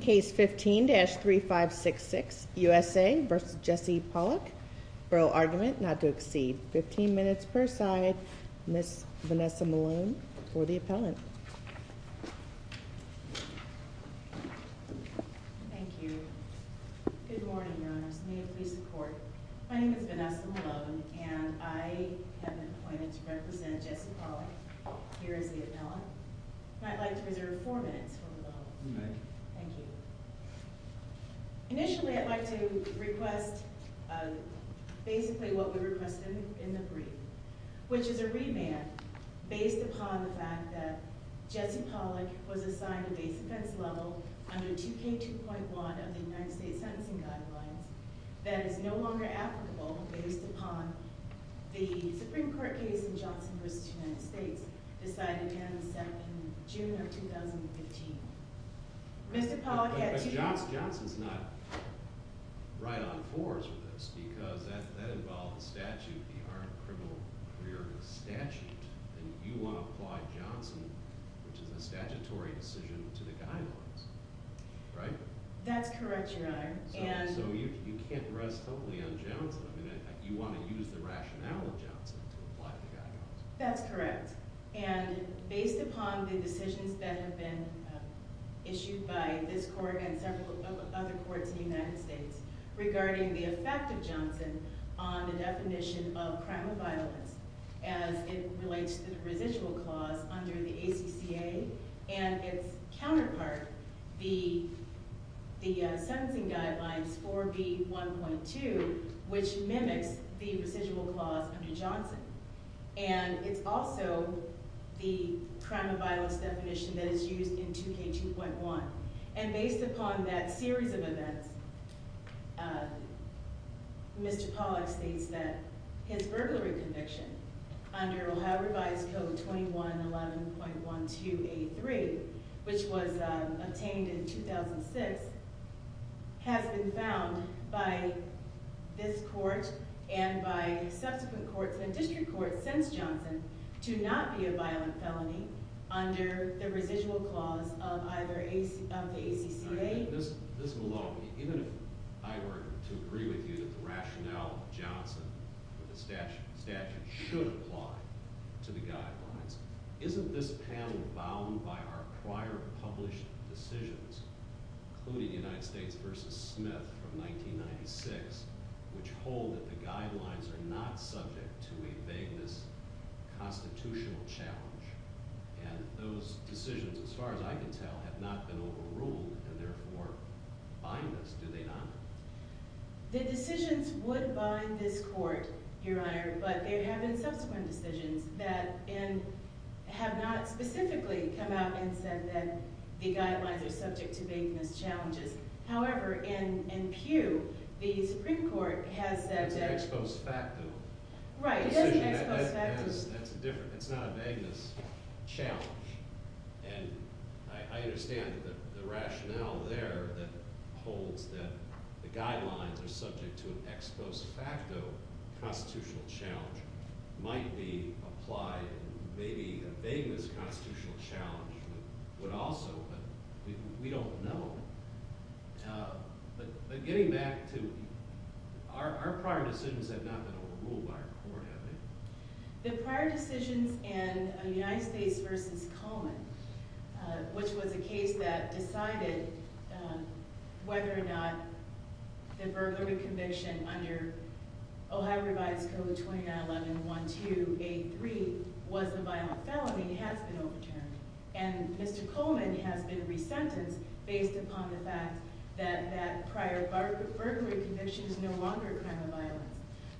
Case 15-3566 U.S.A. v. Jesse Pawlak Barrel argument not to exceed 15 minutes per side Ms. Vanessa Malone for the appellant Thank you Good morning, Your Honors. May you please support My name is Vanessa Malone and I have been appointed to represent Jesse Pawlak here as the appellant And I'd like to reserve four minutes for the vote Thank you Initially I'd like to request basically what we requested in the brief which is a remand based upon the fact that Jesse Pawlak was assigned a base offense level under 2K2.1 of the United States Sentencing Guidelines that is no longer applicable based upon the Supreme Court case in Johnson v. United States decided to end in June of 2015 Mr. Pawlak had two- But Johnson's not right on fours with this because that involves the statute, the armed criminal career statute and you want to apply Johnson, which is a statutory decision, to the guidelines Right? That's correct, Your Honor So you can't rest totally on Johnson You want to use the rationale of Johnson to apply to the guidelines That's correct And based upon the decisions that have been issued by this court and several other courts in the United States regarding the effect of Johnson on the definition of crime of violence as it relates to the residual clause under the ACCA and its counterpart, the Sentencing Guidelines 4B.1.2 which mimics the residual clause under Johnson and it's also the crime of violence definition that is used in 2K2.1 And based upon that series of events Mr. Pawlak states that his burglary conviction under Ohio Revised Code 2111.12A.3 which was obtained in 2006 has been found by this court and by subsequent courts and district courts since Johnson to not be a violent felony under the residual clause of the ACCA Ms. Malone, even if I were to agree with you that the rationale of Johnson statute should apply to the guidelines isn't this panel bound by our prior published decisions including United States v. Smith from 1996 which hold that the guidelines are not subject to a vagueness constitutional challenge and those decisions, as far as I can tell, have not been overruled and therefore bind us, do they not? The decisions would bind this court, Your Honor but there have been subsequent decisions that have not specifically come out and said that the guidelines are subject to vagueness challenges however, in Pew, the Supreme Court has said that It's an ex post facto Right, it is an ex post facto It's not a vagueness challenge and I understand that the rationale there that holds that the guidelines are subject to an ex post facto constitutional challenge might be applied in maybe a vagueness constitutional challenge but we don't know but getting back to our prior decisions have not been overruled by our court, have they? The prior decisions in United States v. Coleman which was a case that decided whether or not the burglary conviction under Ohio Revised Code 2911-1283 was a violent felony has been overturned and Mr. Coleman has been resentenced based upon the fact that that prior burglary conviction is no longer a crime of violence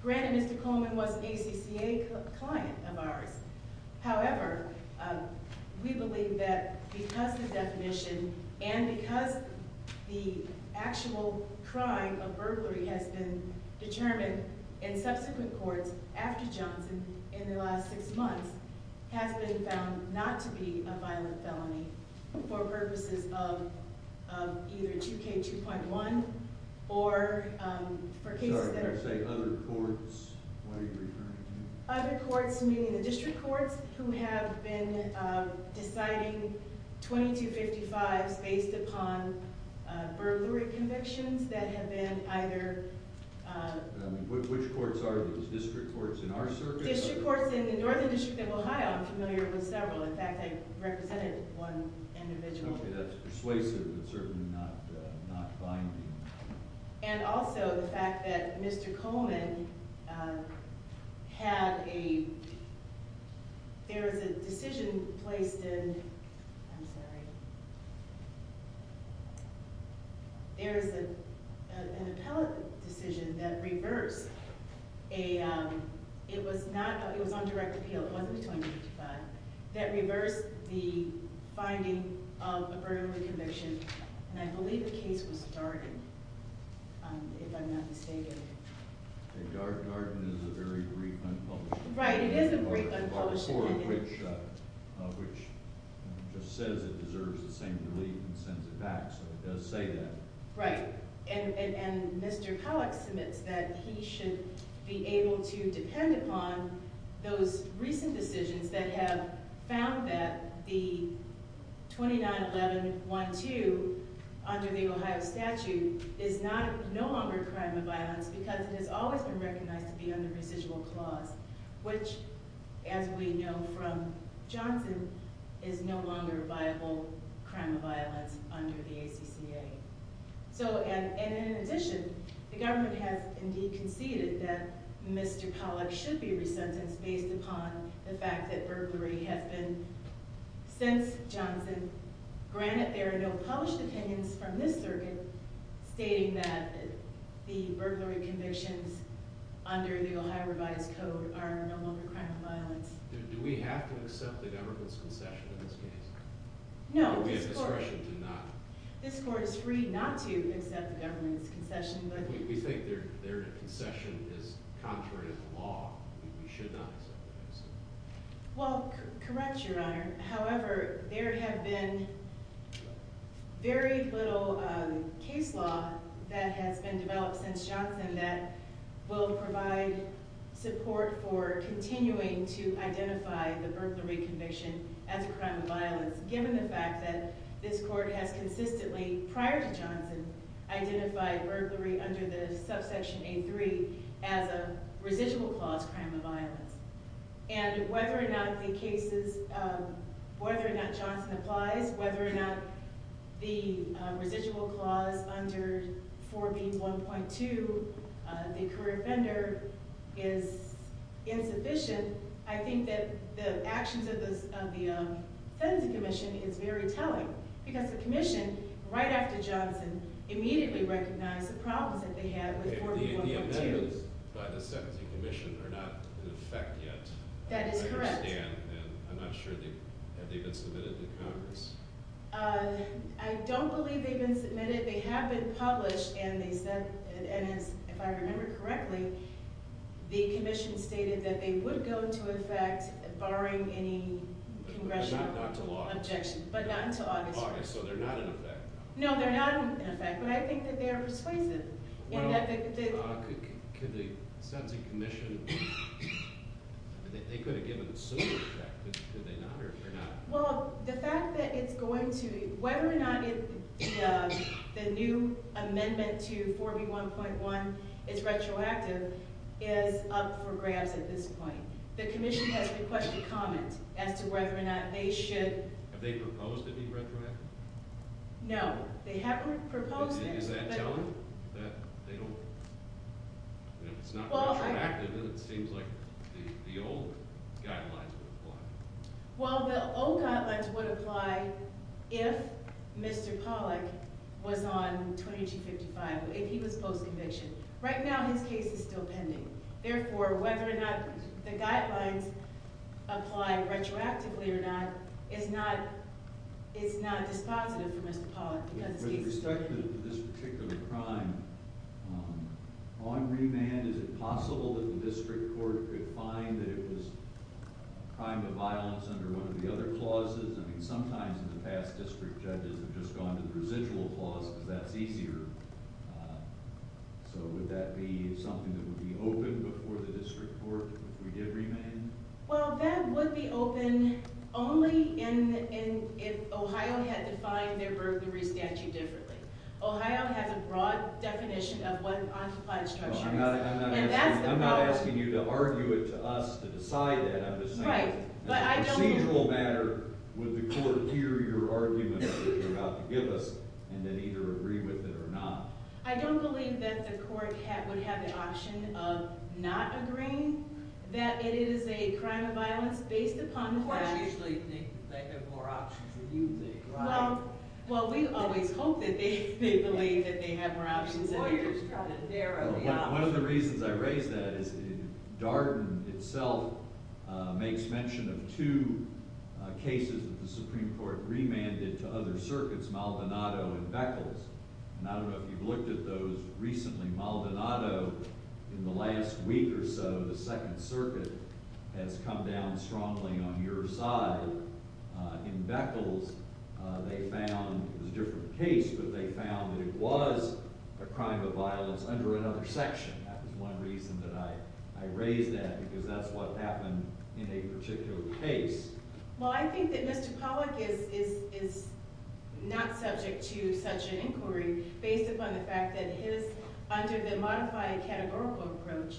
Granted, Mr. Coleman was an ACCA client of ours however, we believe that because the definition and because the actual crime of burglary has been determined in subsequent courts after Johnson in the last six months has been found not to be a violent felony for purposes of either 2K2.1 or for cases that Other courts, what are you referring to? Other courts, meaning the district courts who have been deciding 2255s based upon burglary convictions that have been either Which courts are these? District courts in our circuit? District courts in the Northern District of Ohio I'm familiar with several In fact, I represented one individual Okay, that's persuasive but certainly not binding And also the fact that Mr. Coleman had a There was a decision placed in I'm sorry There was an appellate decision that reversed It was on direct appeal It wasn't 2255 that reversed the finding of a burglary conviction and I believe the case was Darden if I'm not mistaken Darden is a very brief unpublished article Right, it is a brief unpublished article Article 4 of which just says it deserves the same relief and sends it back so it does say that Right And Mr. Pollack submits that he should be able to depend upon those recent decisions that have found that the 291112 under the Ohio statute is no longer a crime of violence because it has always been recognized to be under residual clause which, as we know from Johnson is no longer a viable crime of violence under the ACCA And in addition the government has indeed conceded that Mr. Pollack should be resentenced based upon the fact that burglary has been since Johnson Granted, there are no published opinions from this circuit stating that the burglary convictions under the Ohio revised code are no longer a crime of violence Do we have to accept the government's concession in this case? No Do we have discretion to not? This court is free not to accept the government's concession We think their concession is contrary to the law We should not accept it Well, correct, your honor However, there have been very little case law that has been developed since Johnson that will provide support for continuing to identify the burglary conviction as a crime of violence given the fact that this court has consistently prior to Johnson identified burglary under the subsection A3 as a residual clause crime of violence And whether or not the cases whether or not Johnson applies whether or not the residual clause under 4B1.2 the career offender is insufficient I think that the actions of the sentencing commission is very telling because the commission right after Johnson immediately recognized the problems that they had with 4B1.2 The amendments by the sentencing commission are not in effect yet That is correct I understand and I'm not sure have they been submitted to Congress I don't believe they've been submitted They have been published and they said and if I remember correctly the commission stated that they would go into effect barring any congressional objection but not until August So they're not in effect No, they're not in effect but I think that they are persuasive Well, could the sentencing commission they could have given a similar effect could they not or could they not Well, the fact that it's going to whether or not the new amendment to 4B1.1 is retroactive is up for grabs at this point The commission has requested comment as to whether or not they should Have they proposed it be retroactive? No, they haven't proposed it Is that telling? That they don't If it's not retroactive then it seems like the old guidelines would apply Well, the old guidelines would apply if Mr. Pollack was on 2255 if he was post-conviction Right now his case is still pending Therefore, whether or not the guidelines apply retroactively or not is not dispositive for Mr. Pollack With respect to this particular crime on remand, is it possible that the district court could find that it was a crime of violence under one of the other clauses I mean, sometimes in the past district judges have just gone to the residual clause because that's easier So would that be something that would be open before the district court if we did remand? Well, that would be open only if Ohio had defined their burglary statute differently Ohio has a broad definition of what an uncomplied structure is I'm not asking you to argue it to us to decide that I'm just saying in a procedural matter would the court hear your argument that you're about to give us and then either agree with it or not? I don't believe that the court would have the option of not agreeing that it is a crime of violence based upon the fact Courts usually think they have more options than you think, right? Well, we always hope that they believe that they have more options than they do Lawyers try to narrow the options One of the reasons I raise that is that Darden itself makes mention of two cases that the Supreme Court remanded to other circuits Maldonado and Beckles and I don't know if you've looked at those but recently Maldonado in the last week or so the Second Circuit has come down strongly on your side In Beckles they found it was a different case but they found that it was a crime of violence under another section That was one reason that I raised that because that's what happened in a particular case Well, I think that Mr. Pollack is not subject to such an inquiry based upon the fact that his under the modified categorical approach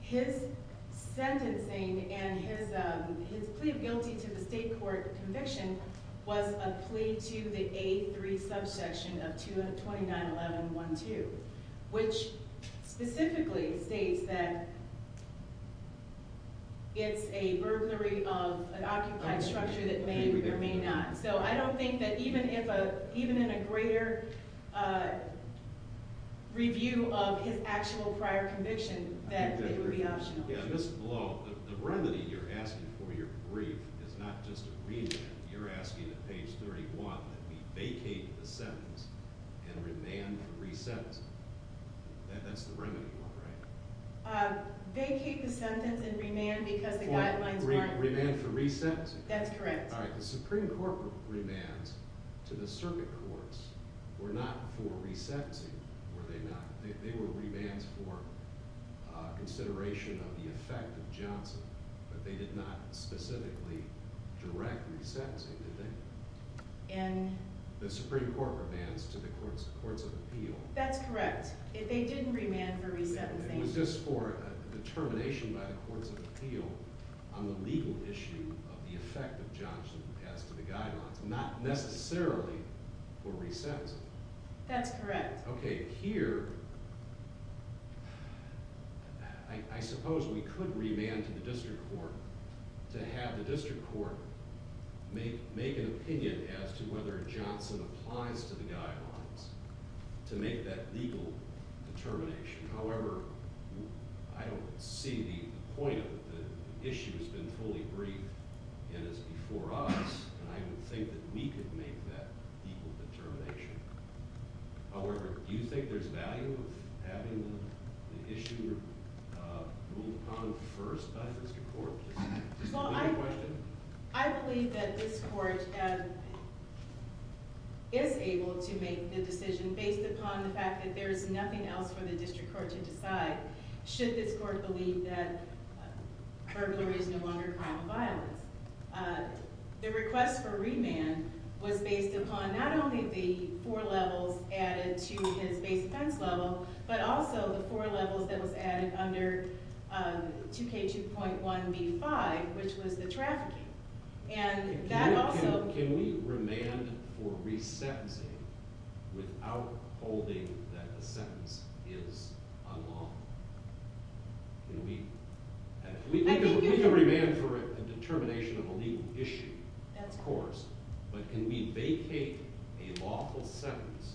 his sentencing and his plea of guilty to the state court conviction was a plea to the A3 subsection of 229.11.1.2 which specifically states that it's a burglary of an occupied structure that may or may not So I don't think that even in a greater review of his actual prior conviction that it would be optional Yeah, Mr. Blow the remedy you're asking for your brief is not just a remand You're asking at page 31 that we vacate the sentence and remand for re-sentencing That's the remedy, right? Vacate the sentence and remand because the guidelines aren't there Remand for re-sentencing That's correct Alright, the Supreme Court remands to the circuit courts were not for re-sentencing were they not? They were remands for consideration of the effect of Johnson but they did not specifically direct re-sentencing, did they? And The Supreme Court remands to the courts of appeal That's correct They didn't remand for re-sentencing It was just for determination by the courts of appeal on the legal issue of the effect of Johnson as to the guidelines not necessarily for re-sentencing That's correct Okay, here I suppose we could remand to the district court to have the district court make an opinion as to whether Johnson applies to the guidelines to make that legal determination However I don't see the point of it The issue has been fully briefed and is before us and I don't think that we could make that legal determination However do you think there's value of having the issue moved upon first by the district court to see Well, I I believe that this court is able to make the decision based upon the fact that there is nothing else for the district court to decide should this court believe that burglary is no longer a crime of violence The request for remand was based upon not only the four levels added to his base offense level but also the four levels that was added under 2K2.1B5 which was the trafficking And that also Can we remand for re-sentencing that the sentence is unlawful Can we I think you We can remand for a determination of a legal issue That's correct Of course But can we vacate a lawful sentence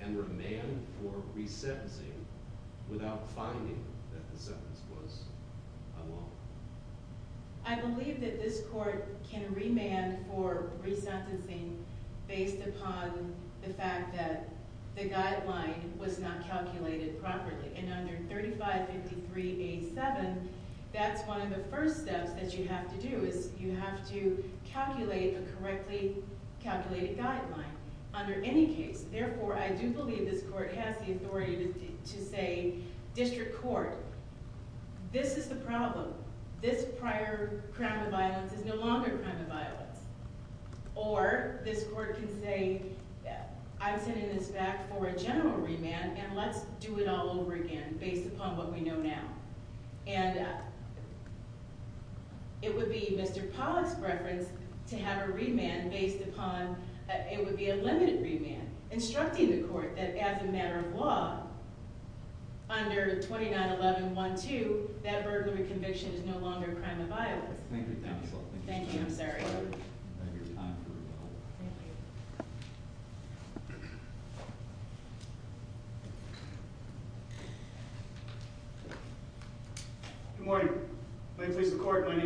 and remand for re-sentencing without finding that the sentence was unlawful I believe that this court can remand for re-sentencing based upon the fact that the guideline was not calculated properly And under 3553A7 that's one of the first steps that you have to do is you have to calculate a correctly calculated guideline Under any case Therefore I do believe this court has the authority to say District Court This is the problem This prior crime of violence is no longer a crime of violence Or this court can say I'm sending this back for a general remand and let's do it all over again based upon what we know now And It would be Mr. Pollack's preference to have a remand based upon it would be a limited remand Instructing the court that as a matter of law under 291112 that burglary conviction is no longer a crime of violence Thank you I'm sorry Good morning My name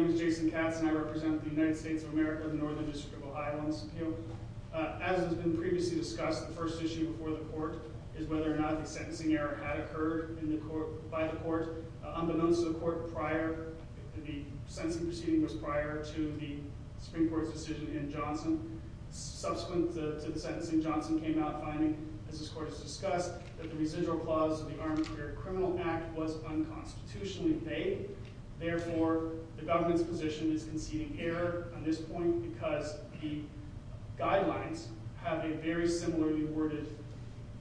is Jason Katz and I represent the United States of America The Northern District of Ohio on this appeal As has been previously discussed the first issue before the court is whether or not the sentencing error had occurred by the court Unbeknownst to the court prior the sentencing proceeding was prior to the Supreme Court's decision in Johnson Subsequent to the sentencing Johnson came out finding as this court has discussed that the residual clause of the guidelines position is conceding error on this point because the guidelines have a very similarly worded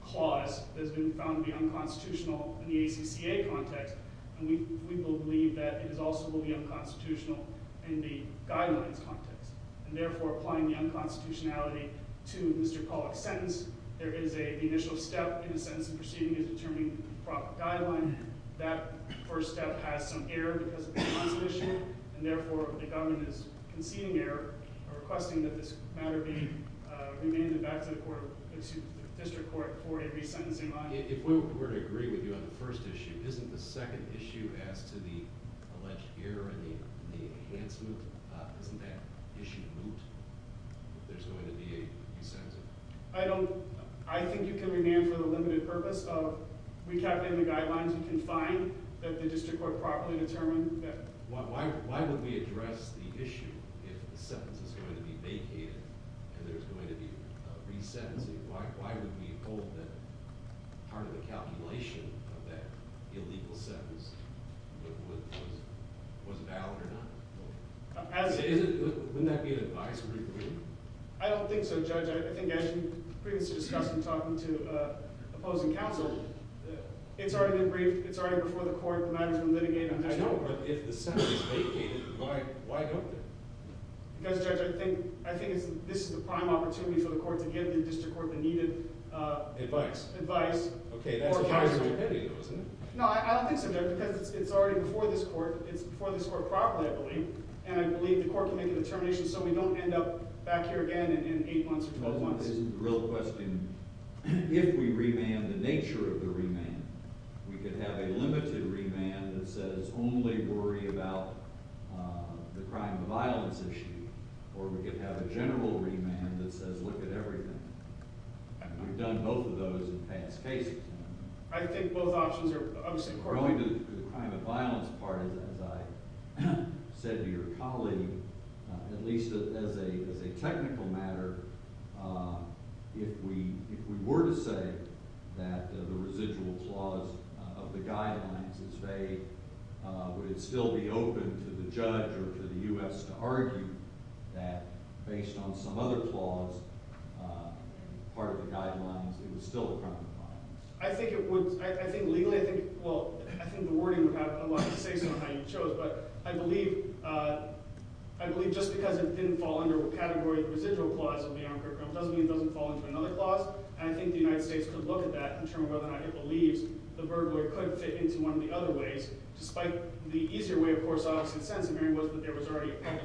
clause that has been found to be unconstitutional in the ACCA context and we believe that it is also unconstitutional in the guidelines context and therefore applying the unconstitutionality to Mr. Pollock's sentence there is a initial step in the sentencing proceeding is determining the proper guideline that first step has some error because of the unconstitutional and therefore the government is conceding error requesting that this matter be remanded back to the district court for a resentencing line If we were to agree with you on the first issue isn't the second issue as to the alleged error and the enhancement isn't that issue removed if there's going to be a resentencing? I think you can remand for the limited purpose of recapping the guidelines you can find that the district court properly determined that Why would we address the issue if the sentence is going to be vacated and there's going to be resentencing why would we hold that part of the calculation of that illegal sentence was valid or not? Wouldn't that be an advice? I don't think so judge I think as we previously discussed in talking to opposing counsel it's already been briefed it's already before the court the management litigated If the sentence is be vacated it's already before the court and I believe the court can make a determination so we don't end up back here again in 8 months or 12 months If we remand the nature of the remand we can have a limited remand that says only worry about the crime of violence issue or we can have a general remand that says look at everything We've done both of those in past cases I think both options are the crime of violence part as I said to your colleague at least as a technical matter if we were to say that the residual clause of the guidelines is vague would it still be open to the judge or to the U.S. to argue that based on some other clause part of the guidelines it was still the crime of violence I think legally I think the wording would have a lot to say on how you chose but I believe just because it didn't fall under the residual doesn't mean it doesn't fall into another clause I think the U.S. could look at that and determine whether or not it believes the burglary could fit into one of the other ways despite the easier way was that there was other clause that would apply I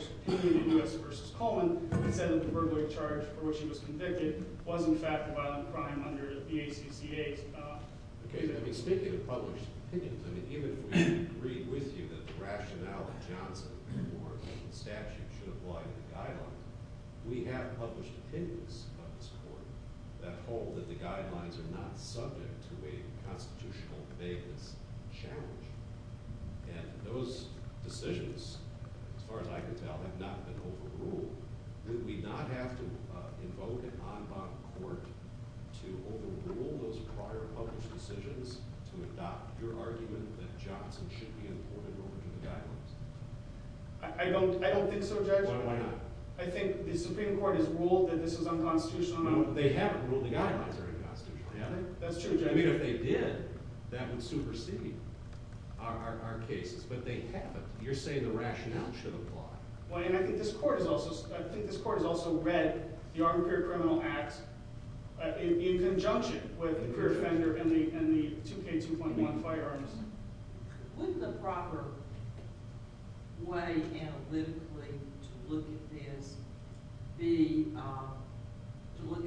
think this court has also read the armed criminal act in conjunction with the offender and the firearms wouldn't the proper way analytically to look at this be to look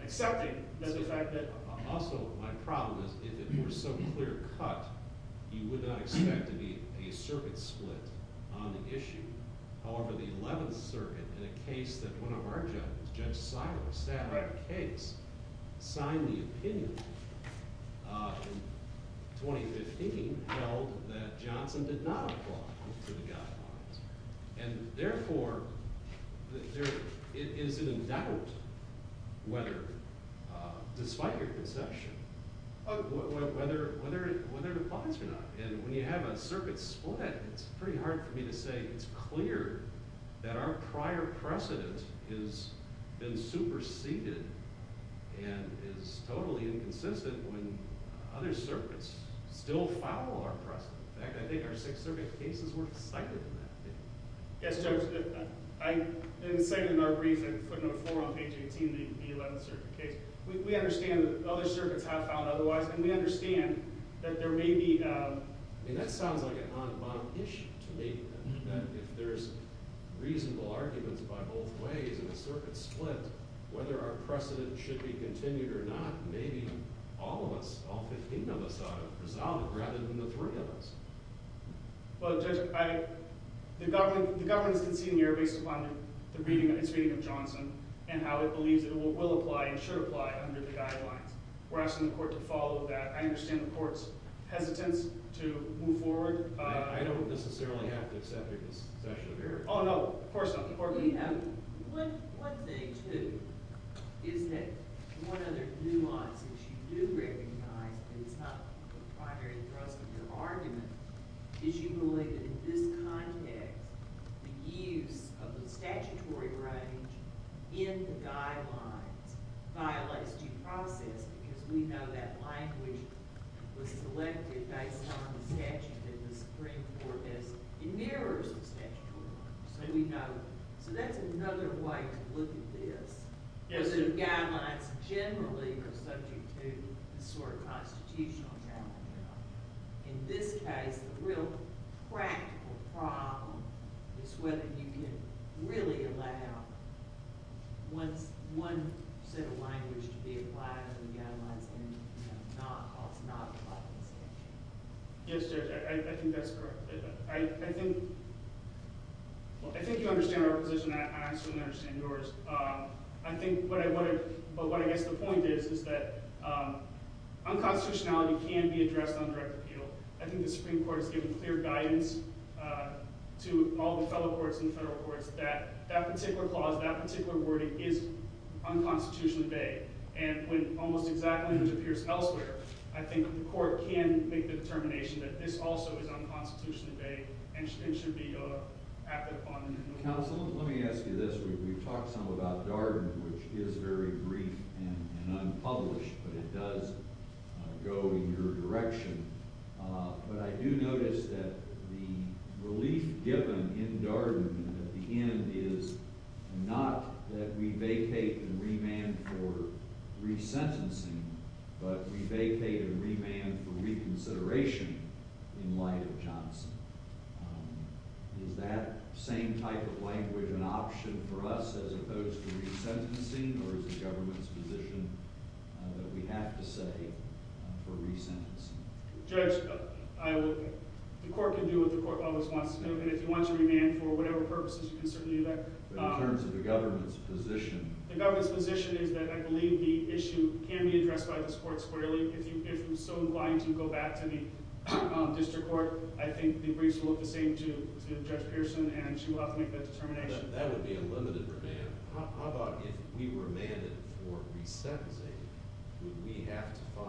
at this case in 2K2.1 instructs courts to look to the career offender guideline to determine whether or not a person has a prior crime of violence the fact that the career offender guideline at this point no court in the state has objected to rejecting the application of the crime of violence definition when they have a burglary condition just because it's the way the Ohio statute is written and I think that for this court to say we can't decide it because the guidelines are not subject to a vagueness challenge will put all of the cases that have been decided since Johnson especially in the district court who's been either on remand or direct sentencing from a conviction it will put all those cases in limbo so although judges do what they do and the government doesn't appeal it doesn't matter what happens is that you're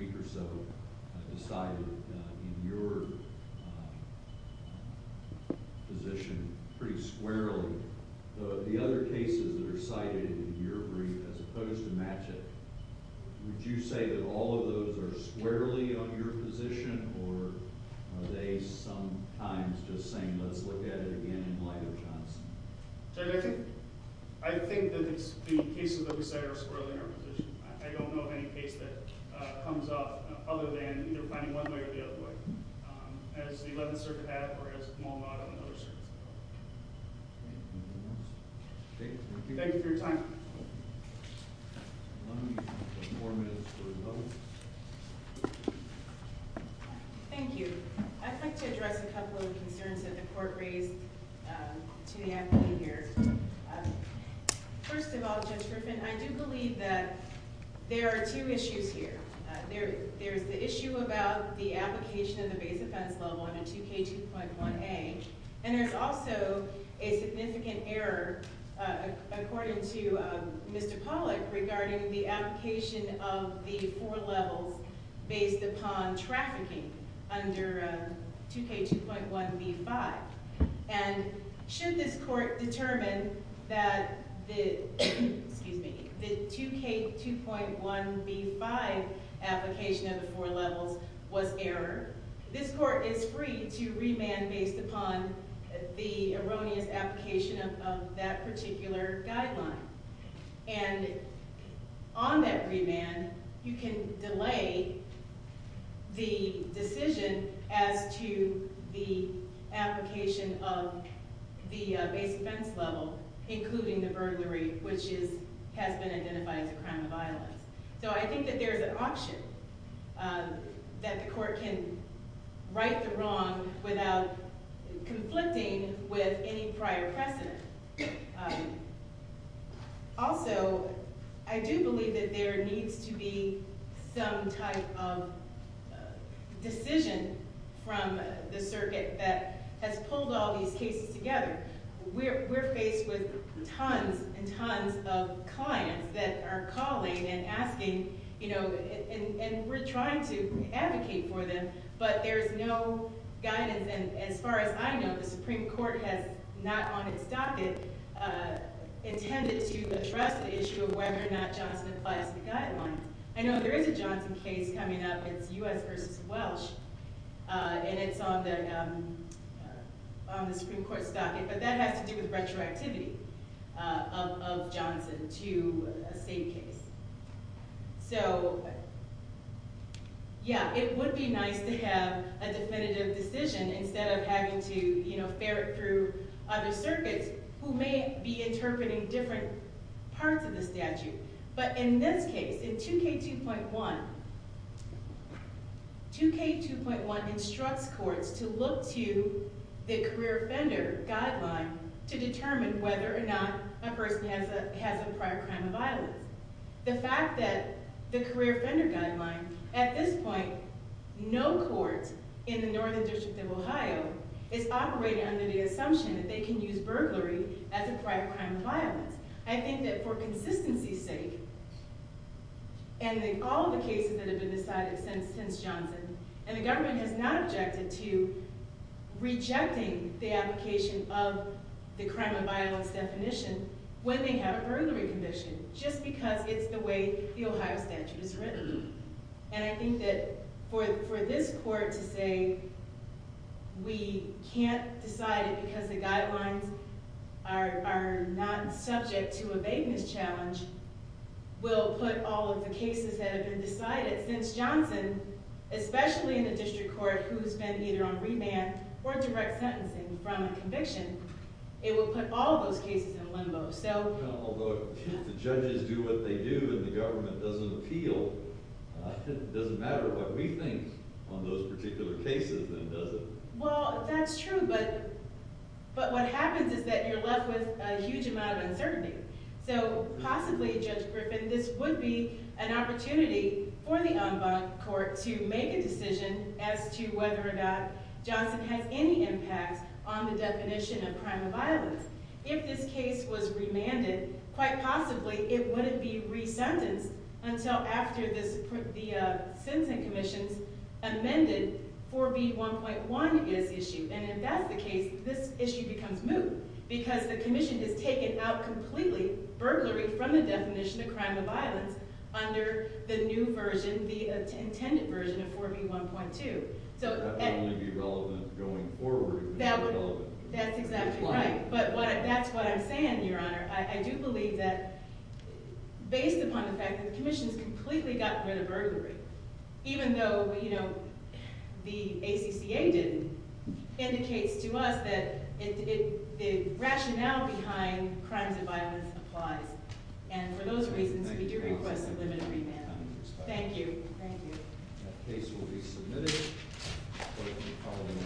left with a huge amount of uncertainty so possibly judge Griffin this would be an opportunity for the en banc court to make a decision as to whether or not Johnson has any impact on the definition of crime of violence if this case was remanded quite possibly it wouldn't be resentenced until after the sentencing commissions amended 4b 1.1 this issue and if that's the case this issue becomes moot because the commission has taken out completely burglary from the definition of crime of violence under the new version the intended version of 4b 1.2 so that's exactly right but that's what I'm saying your question is that based upon the fact that the commission has completely gotten rid of burglary even though the ACCA indicates to us that the rational behind crime of violence applies and for those reasons we do request a limited remand thank you thank you that case will be submitted hopefully following